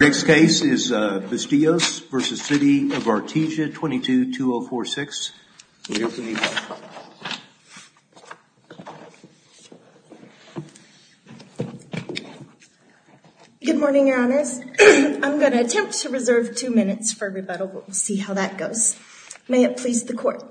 The next case is Bustillos v. City of Artesia, 22-2046. Good morning, Your Honors. I'm going to attempt to reserve two minutes for rebuttal, but we'll see how that goes. May it please the Court.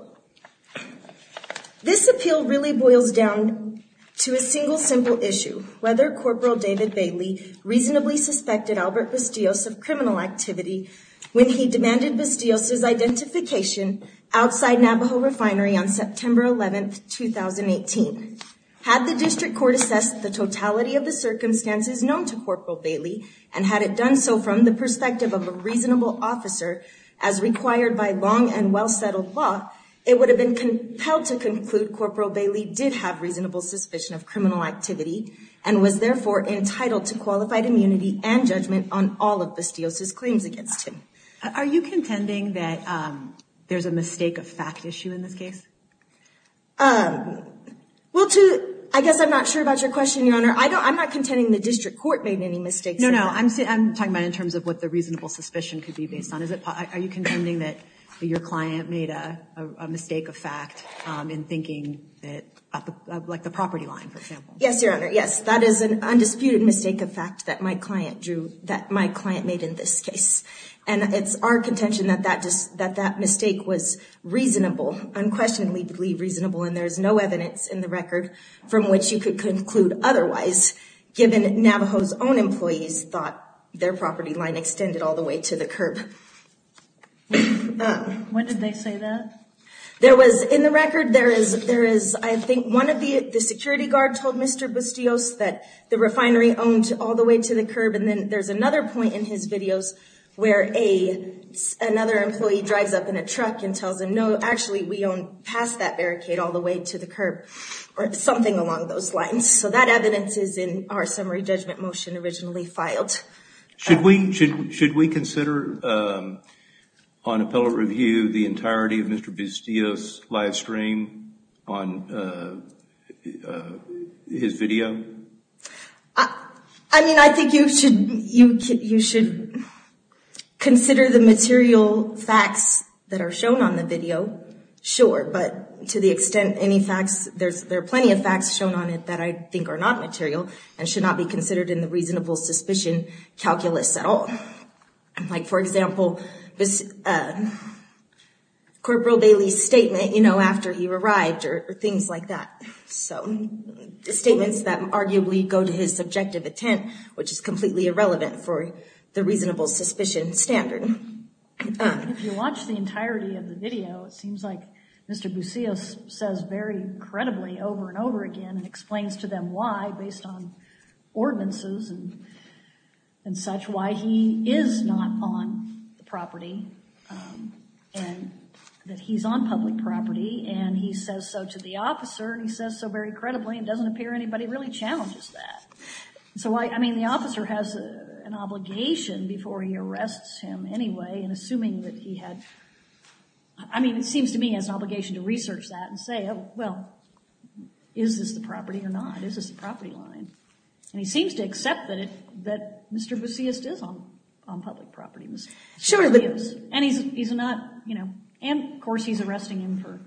This appeal really boils down to a single simple issue, whether Corporal David Bailey reasonably suspected Albert Bustillos of criminal activity when he demanded Bustillos' identification outside Navajo Refinery on September 11, 2018. Had the District Court assessed the totality of the circumstances known to Corporal Bailey and had it done so from the perspective of a reasonable officer, as required by long and well-settled law, it would have been compelled to conclude Corporal Bailey did have reasonable suspicion of criminal activity and was therefore entitled to qualified immunity and judgment on all of Bustillos' claims against him. Are you contending that there's a mistake of fact issue in this case? Well, to, I guess I'm not sure about your question, Your Honor. I don't, I'm not contending the District Court made any mistakes. No, no. I'm saying, I'm talking about in terms of what the reasonable suspicion could be based on. Is it, are you contending that your client made a mistake of fact in thinking that, like the property line, for example? Yes, Your Honor. Yes. That is an undisputed mistake of fact that my client drew, that my client made in this case. And it's our contention that that just, that that mistake was reasonable, unquestionably reasonable and there's no evidence in the record from which you could conclude otherwise given Navajo's own employees thought their property line extended all the way to the curb. When did they say that? There was, in the record, there is, there is, I think one of the, the security guard told Mr. Bustios that the refinery owned all the way to the curb and then there's another point in his videos where a, another employee drives up in a truck and tells him, no, actually we own past that barricade all the way to the curb or something along those lines. So that evidence is in our summary judgment motion originally filed. Should we, should, should we consider on appellate review the entirety of Mr. Bustios' live stream on his video? I mean, I think you should, you should consider the material facts that are shown on the video, sure. But to the extent any facts, there's, there are plenty of facts shown on it that I think are not material and should not be considered in the reasonable suspicion calculus at all. Like for example, this, Corporal Bailey's statement, you know, after he arrived or things like that. So statements that arguably go to his subjective intent, which is completely irrelevant for the reasonable suspicion standard. If you watch the entirety of the video, it seems like Mr. Bustios says very credibly over and over again and explains to them why, based on ordinances and such, why he is not on the property and that he's on public property. And he says so to the officer and he says so very credibly and doesn't appear anybody really challenges that. So why, I mean, the officer has an obligation before he arrests him anyway and assuming that he had, I mean, it seems to me he has an obligation to research that and say, well, is this the property or not? Is this the property line? And he seems to accept that it, that Mr. Bustios is on public property. And he's, he's not, you know, and of course he's arresting him for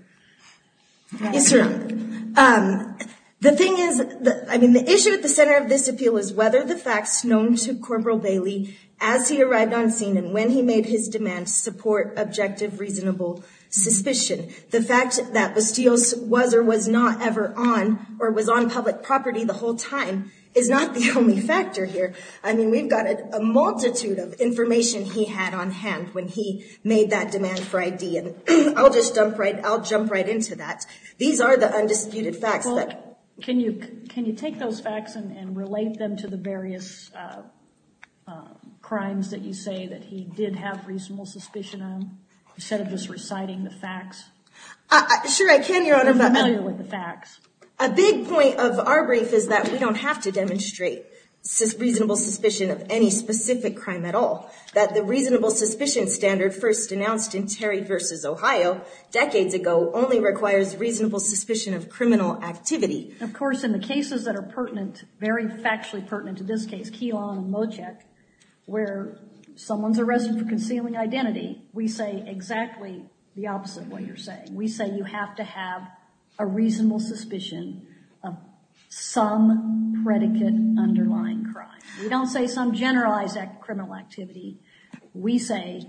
that. The thing is, I mean, the issue at the center of this appeal is whether the facts known to Corporal Bailey as he arrived on scene and when he made his demands support objective reasonable suspicion. The fact that Bustios was or was not ever on or was on public property the whole time is not the only factor here. I mean, we've got a multitude of information he had on hand when he made that demand for ID and I'll just jump right, I'll jump right into that. These are the undisputed facts that. Can you, can you take those facts and relate them to the various crimes that you say that he did have reasonable suspicion of instead of just reciting the facts? Sure, I can, Your Honor, but. Are you familiar with the facts? A big point of our brief is that we don't have to demonstrate reasonable suspicion of any specific crime at all. That the reasonable suspicion standard first announced in Terry v. Ohio decades ago only requires reasonable suspicion of criminal activity. Of course, in the cases that are pertinent, very factually pertinent to this case, Keelan Mochek, where someone's arrested for concealing identity, we say exactly the opposite of what you're saying. We say you have to have a reasonable suspicion of some predicate underlying crime. We don't say some generalized criminal activity. We say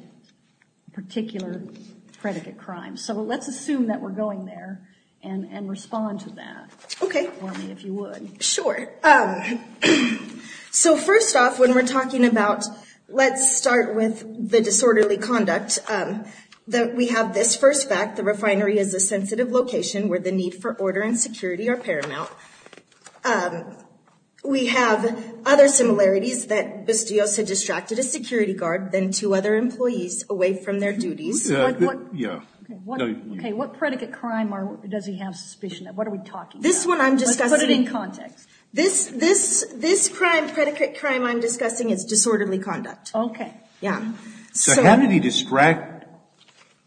particular predicate crime. So let's assume that we're going there and respond to that. Okay. If you would. Sure. So first off, when we're talking about, let's start with the disorderly conduct, that we have this first fact, the refinery is a sensitive location where the need for order and security are paramount. We have other similarities that Bustillos had distracted a security guard than two other employees away from their duties. Yeah. Okay, what predicate crime does he have suspicion of? What are we talking about? This one I'm discussing. Let's put it in context. This crime, predicate crime I'm discussing, is disorderly conduct. Okay. Yeah. So how did he distract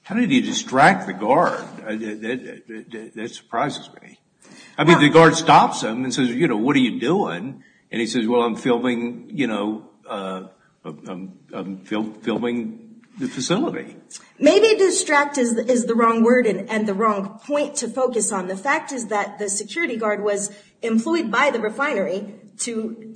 the guard? That surprises me. I mean, the guard stops him and says, you know, what are you doing? And he says, well, I'm filming the facility. Maybe distract is the wrong word and the wrong point to focus on. The fact is that the security guard was employed by the refinery to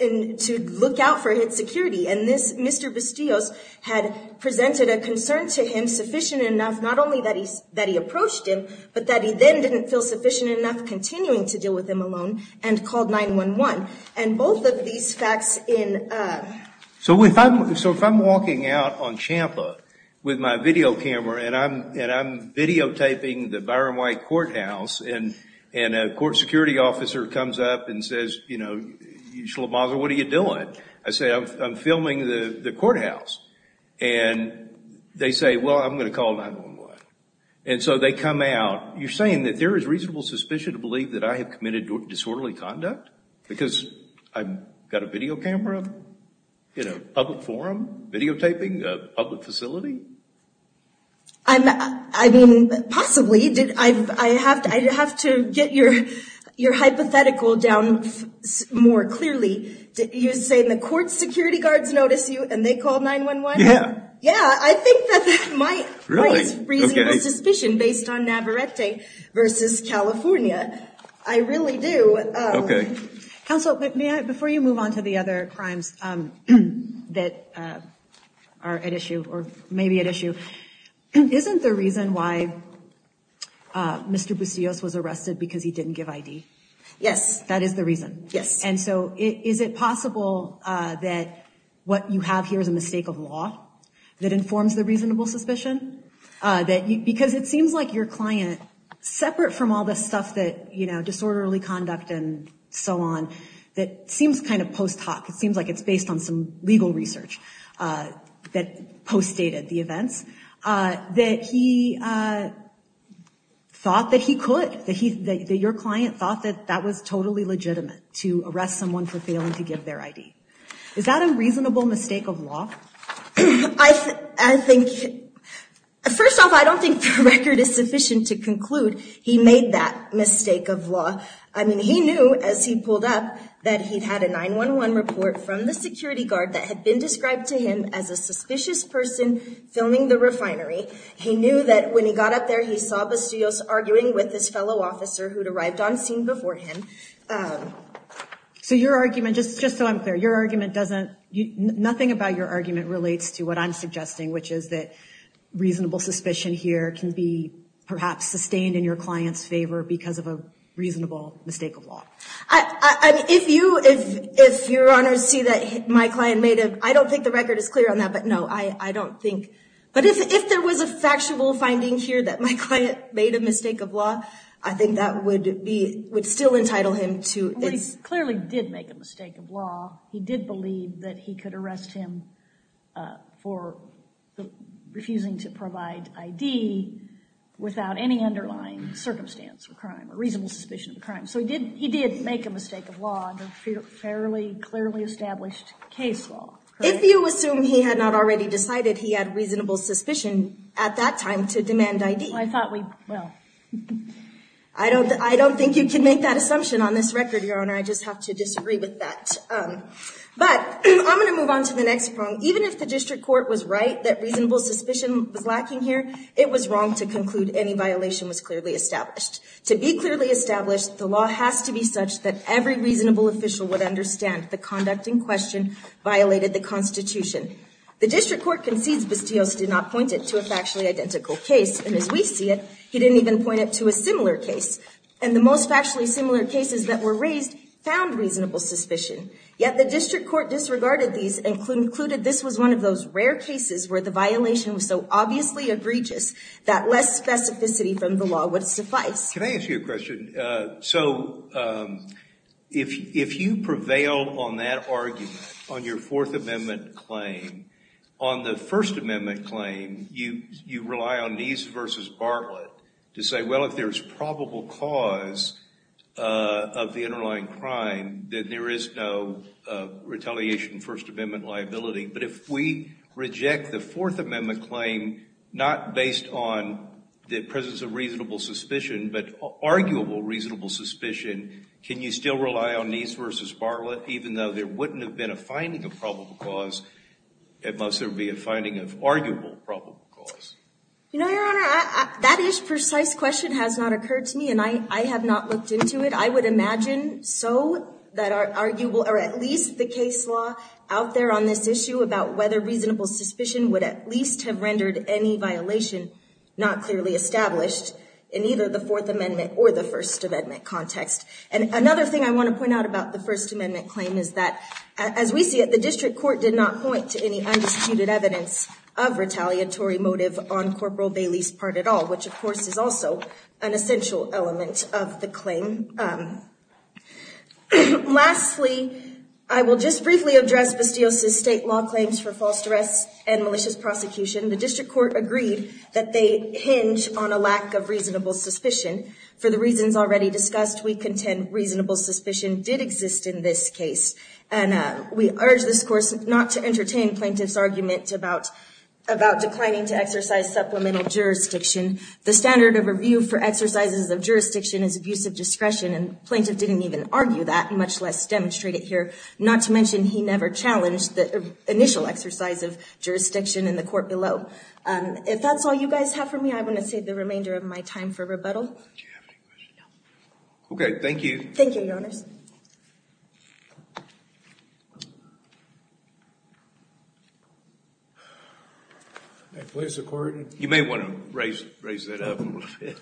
look out for his security. And this Mr. Bustillos had presented a concern to him sufficient enough, not only that he approached him, but that he then didn't feel sufficient enough continuing to deal with him alone and called 911. And both of these facts in... So if I'm walking out on Champa with my video camera and I'm videotaping the Byron White courthouse and a court security officer comes up and says, you know, Shlomoza, what are you doing? I say, I'm filming the courthouse. And they say, well, I'm going to call 911. And so they come out. You're saying that there is reasonable suspicion to believe that I have committed disorderly conduct? Because I've got a video camera in a public forum videotaping a public facility? I mean, possibly. I have to get your hypothetical down more clearly. You're saying the court security guards notice you and they call 911? Yeah. Yeah. I think that might raise reasonable suspicion based on Navarrete versus California. I really do. Okay. Counsel, before you move on to the other crimes that are at issue or maybe at issue, isn't the reason why Mr. Bustillos was arrested because he didn't give ID? Yes. That is the reason? Yes. And so is it possible that what you have here is a mistake of law that informs the reasonable suspicion? Because it seems like your client, separate from all the stuff that, you know, disorderly conduct and so on, that seems kind of post hoc. It seems like it's based on some legal research that post dated the events. That he thought that he could, that your client thought that that was totally legitimate to arrest someone for failing to give their ID. Is that a reasonable mistake of law? I think, first off, I don't think the record is sufficient to conclude he made that mistake of law. I mean, he knew as he pulled up that he'd had a 911 report from the security guard that had been described to him as a suspicious person filming the refinery. He knew that when he got up there he saw Bustillos arguing with his fellow officer who'd arrived on scene before him. So your argument, just so I'm clear, your argument doesn't, nothing about your argument relates to what I'm suggesting, which is that reasonable suspicion here can be perhaps sustained in your client's favor because of a reasonable mistake of law. I mean, if you, if your honors see that my client made a, I don't think the record is clear on that, but no, I don't think, but if there was a factual finding here that my client made a mistake of law, I think that would be, would still entitle him to. Well, he clearly did make a mistake of law. He did believe that he could arrest him for refusing to provide ID without any underlying circumstance or crime or reasonable suspicion of a crime. So he did, he did make a mistake of law under fairly clearly established case law. If you assume he had not already decided he had reasonable suspicion at that time to demand ID. I thought we, well. I don't, I don't think you can make that assumption on this record, your honor. I just have to disagree with that. But I'm going to move on to the next prong. Even if the district court was right that reasonable suspicion was lacking here, it was wrong to conclude any violation was clearly established. To be clearly established, the law has to be such that every reasonable official would understand the conduct in question violated the constitution. The district court concedes Bastios did not point it to a factually identical case. And as we see it, he didn't even point it to a similar case. And the most factually similar cases that were raised found reasonable suspicion. Yet the district court disregarded these and concluded this was one of those rare cases where the violation was so obviously egregious that less specificity from the law would suffice. Can I ask you a question? So, if you prevail on that argument, on your Fourth Amendment claim, on the First Amendment claim, you rely on Neese versus Bartlett to say, well, if there's probable cause of the underlying crime, then there is no retaliation First Amendment liability. But if we reject the Fourth Amendment claim, not based on the presence of reasonable suspicion, but arguable reasonable suspicion, can you still rely on Neese versus Bartlett even though there wouldn't have been a finding of probable cause? It must have been a finding of arguable probable cause. You know, Your Honor, that is precise question has not occurred to me. And I have not looked into it. I would imagine so that are arguable or at least the case law out there on this issue about whether reasonable suspicion would at least have rendered any violation not clearly established in either the Fourth Amendment or the First Amendment context. And another thing I want to point out about the First Amendment claim is that, as we see it, the district court did not point to any undisputed evidence of retaliatory motive on this case, which is also an essential element of the claim. Lastly, I will just briefly address Bastios' state law claims for false arrests and malicious prosecution. The district court agreed that they hinge on a lack of reasonable suspicion. For the reasons already discussed, we contend reasonable suspicion did exist in this case. And we urge this court not to entertain plaintiff's argument about declining to exercise supplemental jurisdiction. The standard of review for exercises of jurisdiction is abuse of discretion. And plaintiff didn't even argue that, much less demonstrate it here. Not to mention he never challenged the initial exercise of jurisdiction in the court below. If that's all you guys have for me, I want to save the remainder of my time for rebuttal. Do you have any questions? No. Okay. Thank you. Thank you, Your Honors. You may want to raise that up a little bit.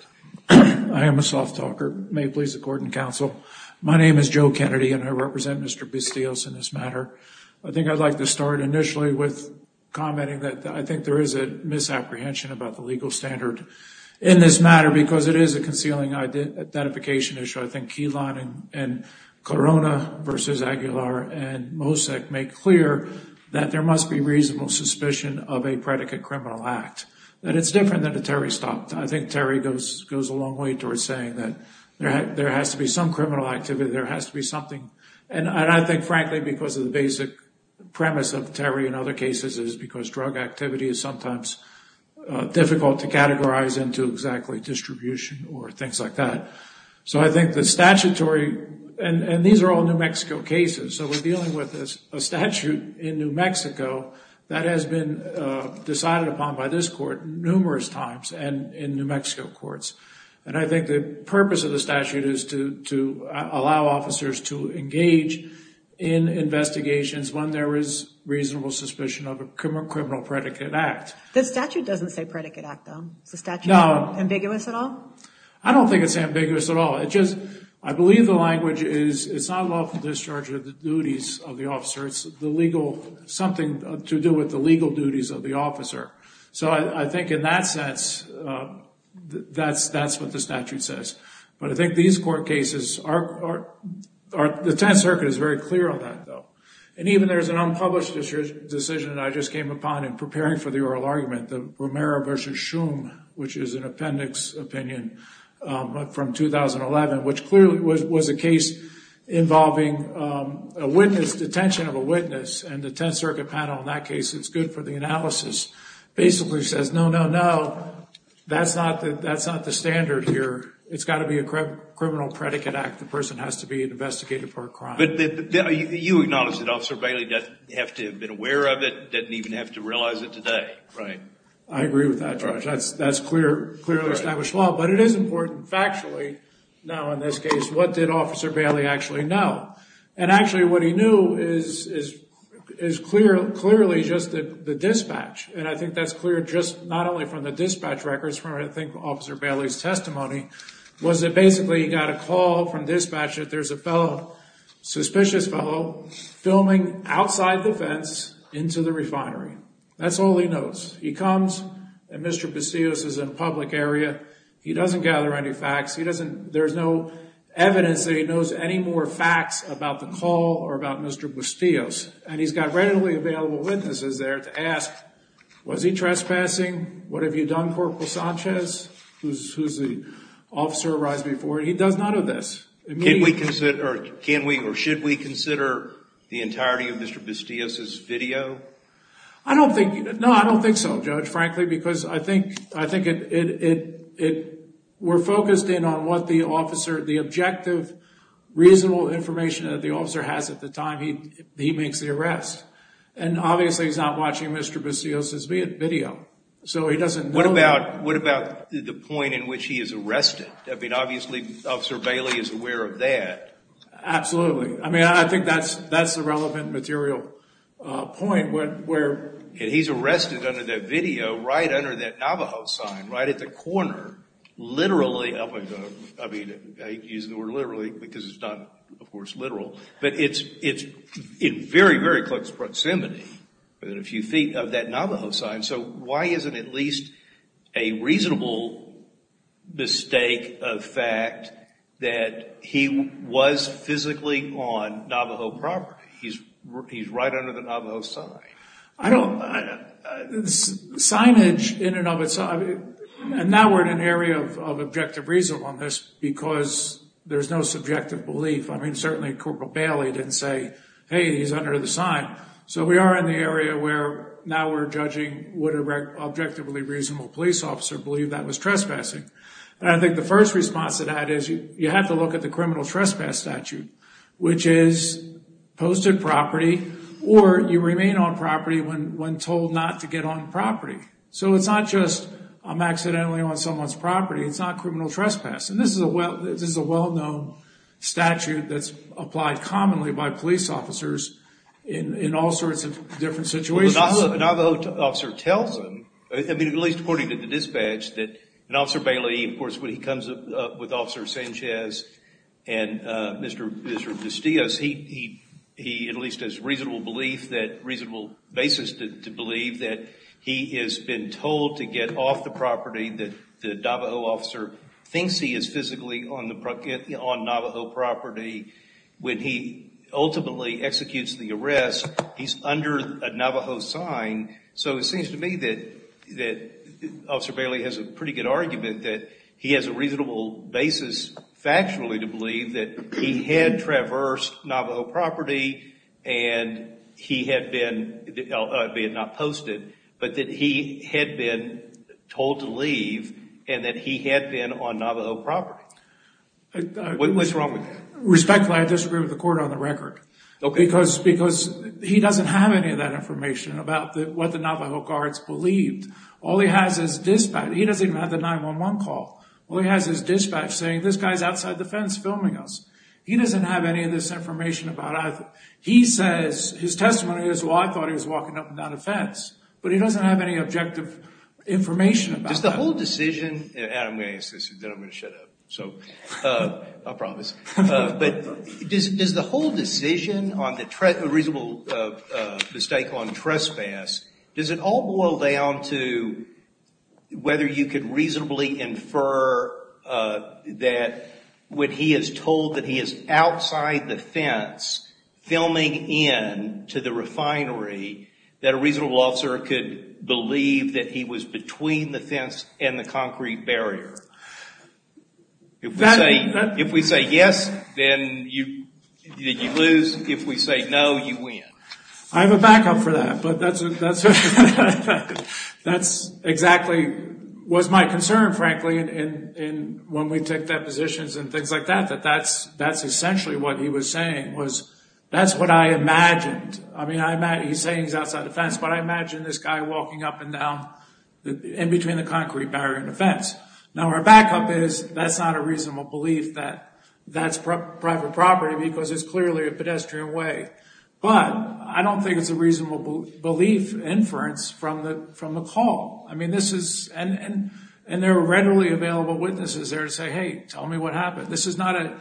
I am a soft talker. May it please the court and counsel, my name is Joe Kennedy and I represent Mr. Bastios in this matter. I think I'd like to start initially with commenting that I think there is a misapprehension about the legal standard in this matter because it is a concealing identification issue. So I think Keyline and Corona versus Aguilar and Mosek make clear that there must be reasonable suspicion of a predicate criminal act. That it's different than a Terry Stockton. I think Terry goes a long way towards saying that there has to be some criminal activity, there has to be something. And I think, frankly, because of the basic premise of Terry in other cases is because drug activity is sometimes difficult to categorize into exactly distribution or things like that. So I think the statutory, and these are all New Mexico cases, so we're dealing with a statute in New Mexico that has been decided upon by this court numerous times and in New Mexico courts. And I think the purpose of the statute is to allow officers to engage in investigations when there is reasonable suspicion of a criminal predicate act. The statute doesn't say predicate act, though. Is the statute ambiguous at all? I don't think it's ambiguous at all. It just, I believe the language is it's not lawful discharge of the duties of the officer. It's the legal, something to do with the legal duties of the officer. So I think in that sense, that's what the statute says. But I think these court cases are, the Tenth Circuit is very clear on that, though. And even there's an unpublished decision that I just came upon in preparing for the oral opinion from 2011, which clearly was a case involving a witness, detention of a witness. And the Tenth Circuit panel in that case, it's good for the analysis, basically says, no, no, no, that's not the standard here. It's got to be a criminal predicate act. The person has to be investigated for a crime. But you acknowledge that Officer Bailey doesn't have to have been aware of it, doesn't even have to realize it today. Right. I agree with that, Judge. That's clearly established law. But it is important factually now in this case, what did Officer Bailey actually know? And actually what he knew is clearly just the dispatch. And I think that's clear just not only from the dispatch records, from I think Officer Bailey's testimony, was that basically he got a call from dispatch that there's a fellow, suspicious fellow, filming outside the fence into the refinery. That's all he knows. He comes, and Mr. Bustillos is in a public area. He doesn't gather any facts. There's no evidence that he knows any more facts about the call or about Mr. Bustillos. And he's got readily available witnesses there to ask, was he trespassing? What have you done, Corporal Sanchez, who's the officer who arrived before him? He does none of this. Can we consider, or should we consider the entirety of Mr. Bustillos' video? I don't think so, Judge, frankly, because I think we're focused in on what the officer, the objective, reasonable information that the officer has at the time he makes the arrest. And obviously he's not watching Mr. Bustillos' video. So he doesn't know. What about the point in which he is arrested? I mean, obviously Officer Bailey is aware of that. Absolutely. I mean, I think that's the relevant material point. And he's arrested under that video, right under that Navajo sign, right at the corner, literally. I use the word literally because it's not, of course, literal. But it's in very, very close proximity, within a few feet of that Navajo sign. So why is it at least a reasonable mistake of fact that he was physically on Navajo property? He's right under the Navajo sign. I don't, signage in and of itself, and now we're in an area of objective reasonableness because there's no subjective belief. I mean, certainly Corporal Bailey didn't say, hey, he's under the sign. So we are in the area where now we're judging would an objectively reasonable police officer believe that was trespassing. And I think the first response to that is you have to look at the criminal trespass statute, which is posted property or you remain on property when told not to get on property. So it's not just I'm accidentally on someone's property. It's not criminal trespass. And this is a well-known statute that's applied commonly by police officers in all sorts of different situations. Well, the Navajo officer tells them, at least according to the dispatch, that Officer Bailey, of course, when he comes up with Officer Sanchez and Mr. DeStias, he at least has reasonable basis to believe that he has been told to get off the property that the Navajo officer thinks he is physically on Navajo property. When he ultimately executes the arrest, he's under a Navajo sign. So it seems to me that Officer Bailey has a pretty good argument that he has a reasonable basis factually to believe that he had traversed Navajo property and he had been, albeit not posted, but that he had been told to leave and that he had been on Navajo property. What's wrong with that? Respectfully, I disagree with the court on the record. Okay. Because he doesn't have any of that information about what the Navajo guards believed. All he has is dispatch. He doesn't even have the 911 call. All he has is dispatch saying this guy is outside the fence filming us. He doesn't have any of this information about either. He says his testimony is, well, I thought he was walking up and down the fence, but he doesn't have any objective information about that. Does the whole decision, and I'm going to ask this and then I'm going to shut up. I promise. But does the whole decision on the reasonable mistake on trespass, does it all boil down to whether you could reasonably infer that when he is told that he is outside the fence filming in to the refinery, that a reasonable officer could believe that he was between the fence and the concrete barrier? If we say yes, then you lose. If we say no, you win. I have a backup for that, but that's exactly what's my concern, frankly, when we take depositions and things like that, that that's essentially what he was saying was that's what I imagined. I mean, he's saying he's outside the fence, but I imagine this guy walking up and down in between the concrete barrier and the fence. Now, our backup is that's not a reasonable belief that that's private property because it's clearly a pedestrian way. But I don't think it's a reasonable belief inference from the call. I mean, this is – and there are readily available witnesses there to say, hey, tell me what happened. This is not a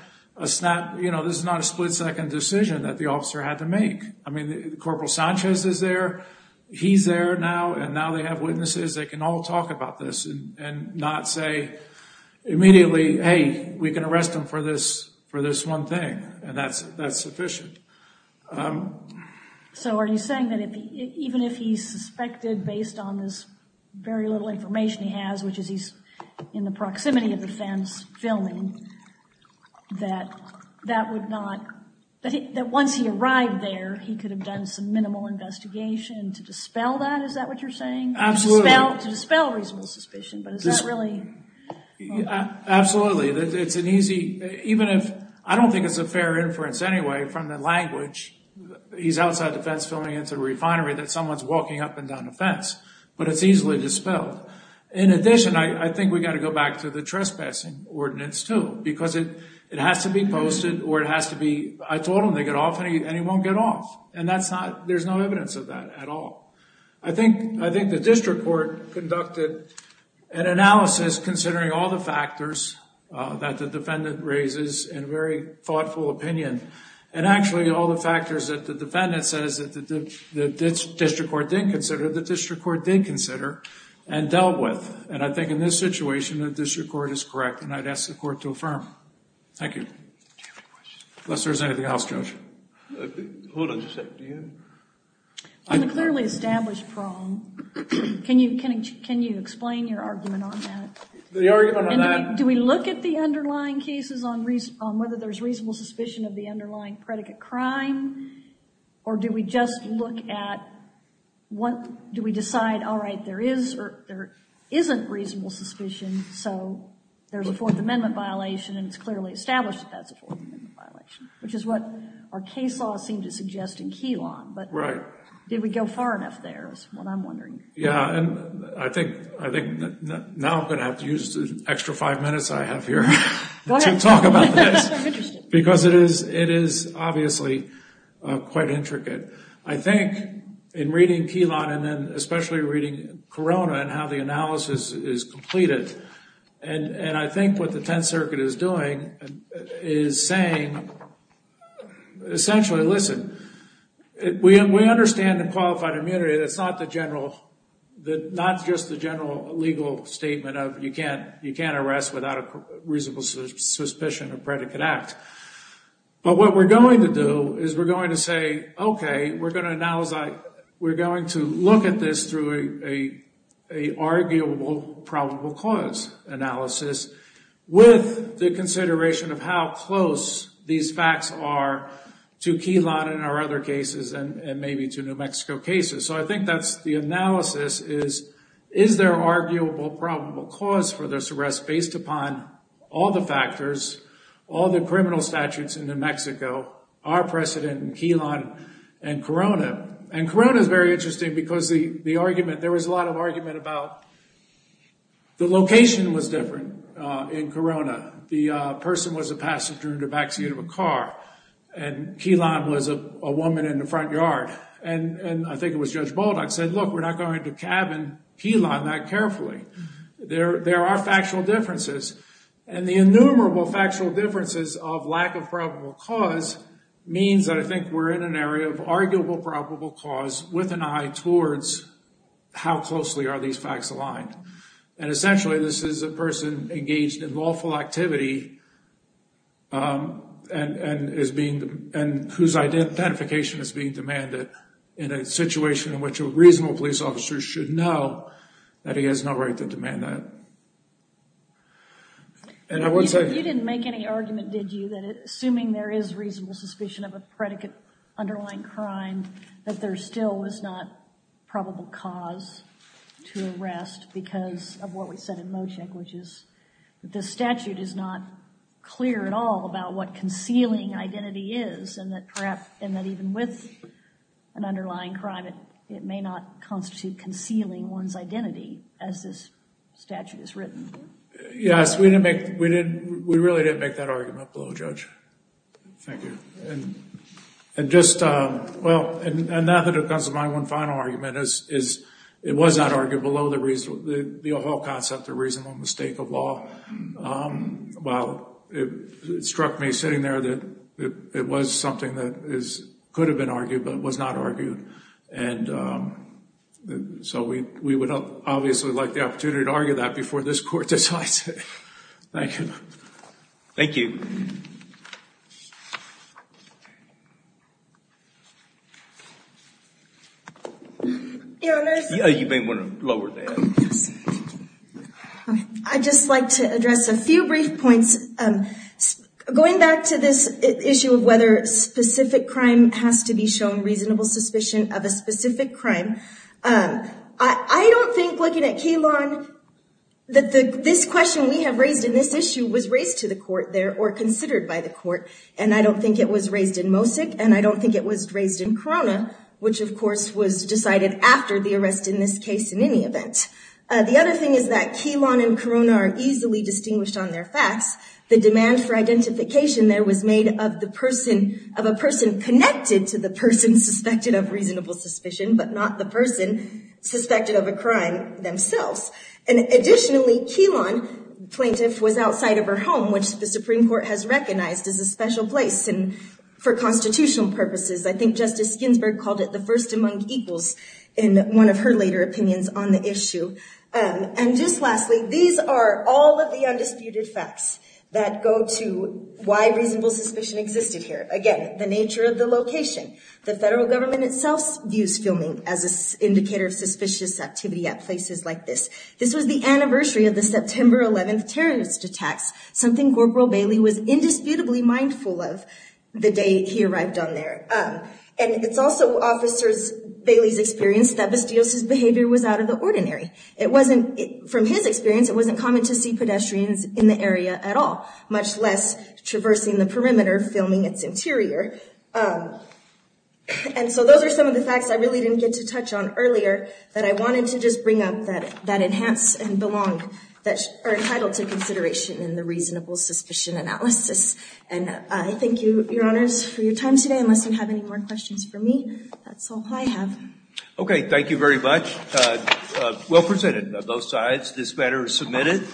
split-second decision that the officer had to make. I mean, Corporal Sanchez is there, he's there now, and now they have witnesses. They can all talk about this and not say immediately, hey, we can arrest him for this one thing, and that's sufficient. So are you saying that even if he's suspected based on this very little information he has, which is he's in the proximity of the fence filming, that that would not – that once he arrived there, he could have done some minimal investigation to dispel that? Is that what you're saying? Absolutely. To dispel reasonable suspicion, but is that really – Absolutely. It's an easy – even if – I don't think it's a fair inference anyway from the language, he's outside the fence filming into the refinery, that someone's walking up and down the fence. But it's easily dispelled. In addition, I think we've got to go back to the trespassing ordinance too, because it has to be posted or it has to be – I told him they get off and he won't get off. And that's not – there's no evidence of that at all. I think the district court conducted an analysis considering all the factors that the defendant raises in a very thoughtful opinion. And actually, all the factors that the defendant says that the district court didn't consider, the district court did consider and dealt with. And I think in this situation, the district court is correct and I'd ask the court to affirm. Thank you. Do you have any questions? Unless there's anything else, Judge. Hold on just a second. On the clearly established problem, can you explain your argument on that? The argument on that – Do we look at the underlying cases on whether there's reasonable suspicion of the underlying predicate crime? Or do we just look at what – do we decide, all right, there is or there isn't reasonable suspicion, so there's a Fourth Amendment violation and it's clearly established that that's a Fourth Amendment violation, which is what our case law seemed to suggest in Keylong. Right. But did we go far enough there is what I'm wondering. Yeah, and I think now I'm going to have to use the extra five minutes I have here to talk about this because it is obviously quite intricate. I think in reading Keylong and then especially reading Corona and how the analysis is completed, and I think what the Tenth Circuit is doing is saying essentially, listen, we understand in qualified immunity that it's not just the general legal statement of you can't arrest without a reasonable suspicion of predicate act. But what we're going to do is we're going to say, okay, we're going to look at this through an arguable probable cause analysis with the consideration of how close these facts are to Keylong and our other cases and maybe to New Mexico cases. So I think that's the analysis is, is there arguable probable cause for this arrest based upon all the factors, all the criminal statutes in New Mexico, our precedent in Keylong and Corona? And Corona is very interesting because the argument – there was a lot of argument about the location was different in Corona. The person was a passenger in the backseat of a car, and Keylong was a woman in the front yard. And I think it was Judge Baldock said, look, we're not going to cabin Keylong that carefully. There are factual differences. And the innumerable factual differences of lack of probable cause means that I think we're in an area of arguable probable cause with an eye towards how closely are these facts aligned. And essentially this is a person engaged in lawful activity and is being – and whose identification is being demanded in a situation in which a reasonable police officer should know that he has no right to demand that. And I would say – You didn't make any argument, did you, that assuming there is reasonable suspicion of a predicate underlying crime, that there still was not probable cause to arrest because of what we said in Mocheck, which is that the statute is not clear at all about what concealing identity is, and that perhaps – and that even with an underlying crime, it may not constitute concealing one's identity as this statute is written. Yes, we didn't make – we really didn't make that argument below, Judge. Thank you. And just – well, and that becomes my one final argument, is it was not argued below the whole concept of reasonable mistake of law. While it struck me sitting there that it was something that could have been argued, but was not argued. And so we would obviously like the opportunity to argue that before this court decides it. Thank you. Thank you. Your Honors. You may want to lower that. Yes, thank you. I'd just like to address a few brief points. Going back to this issue of whether specific crime has to be shown reasonable suspicion of a specific crime, I don't think, looking at Keylon, that this question we have raised in this issue was raised to the court there or considered by the court. And I don't think it was raised in Mocek, and I don't think it was raised in Corona, which, of course, was decided after the arrest in this case in any event. The other thing is that Keylon and Corona are easily distinguished on their facts. The demand for identification there was made of the person – of a person connected to the person suspected of reasonable suspicion, but not the person suspected of a crime themselves. And additionally, Keylon, plaintiff, was outside of her home, which the Supreme Court has recognized as a special place for constitutional purposes. I think Justice Ginsburg called it the first among equals in one of her later opinions on the issue. And just lastly, these are all of the undisputed facts that go to why reasonable suspicion existed here. Again, the nature of the location. The federal government itself views filming as an indicator of suspicious activity at places like this. This was the anniversary of the September 11th terrorist attacks, something Governor Bailey was indisputably mindful of the day he arrived on there. And it's also Bailey's experience that Bastios' behavior was out of the ordinary. From his experience, it wasn't common to see pedestrians in the area at all, much less traversing the perimeter filming its interior. And so those are some of the facts I really didn't get to touch on earlier that I wanted to just bring up that enhance and belong – that are entitled to consideration in the reasonable suspicion analysis. And I thank you, Your Honors, for your time today. Unless you have any more questions for me, that's all I have. Okay. Thank you very much. Well presented on both sides. This matter is submitted.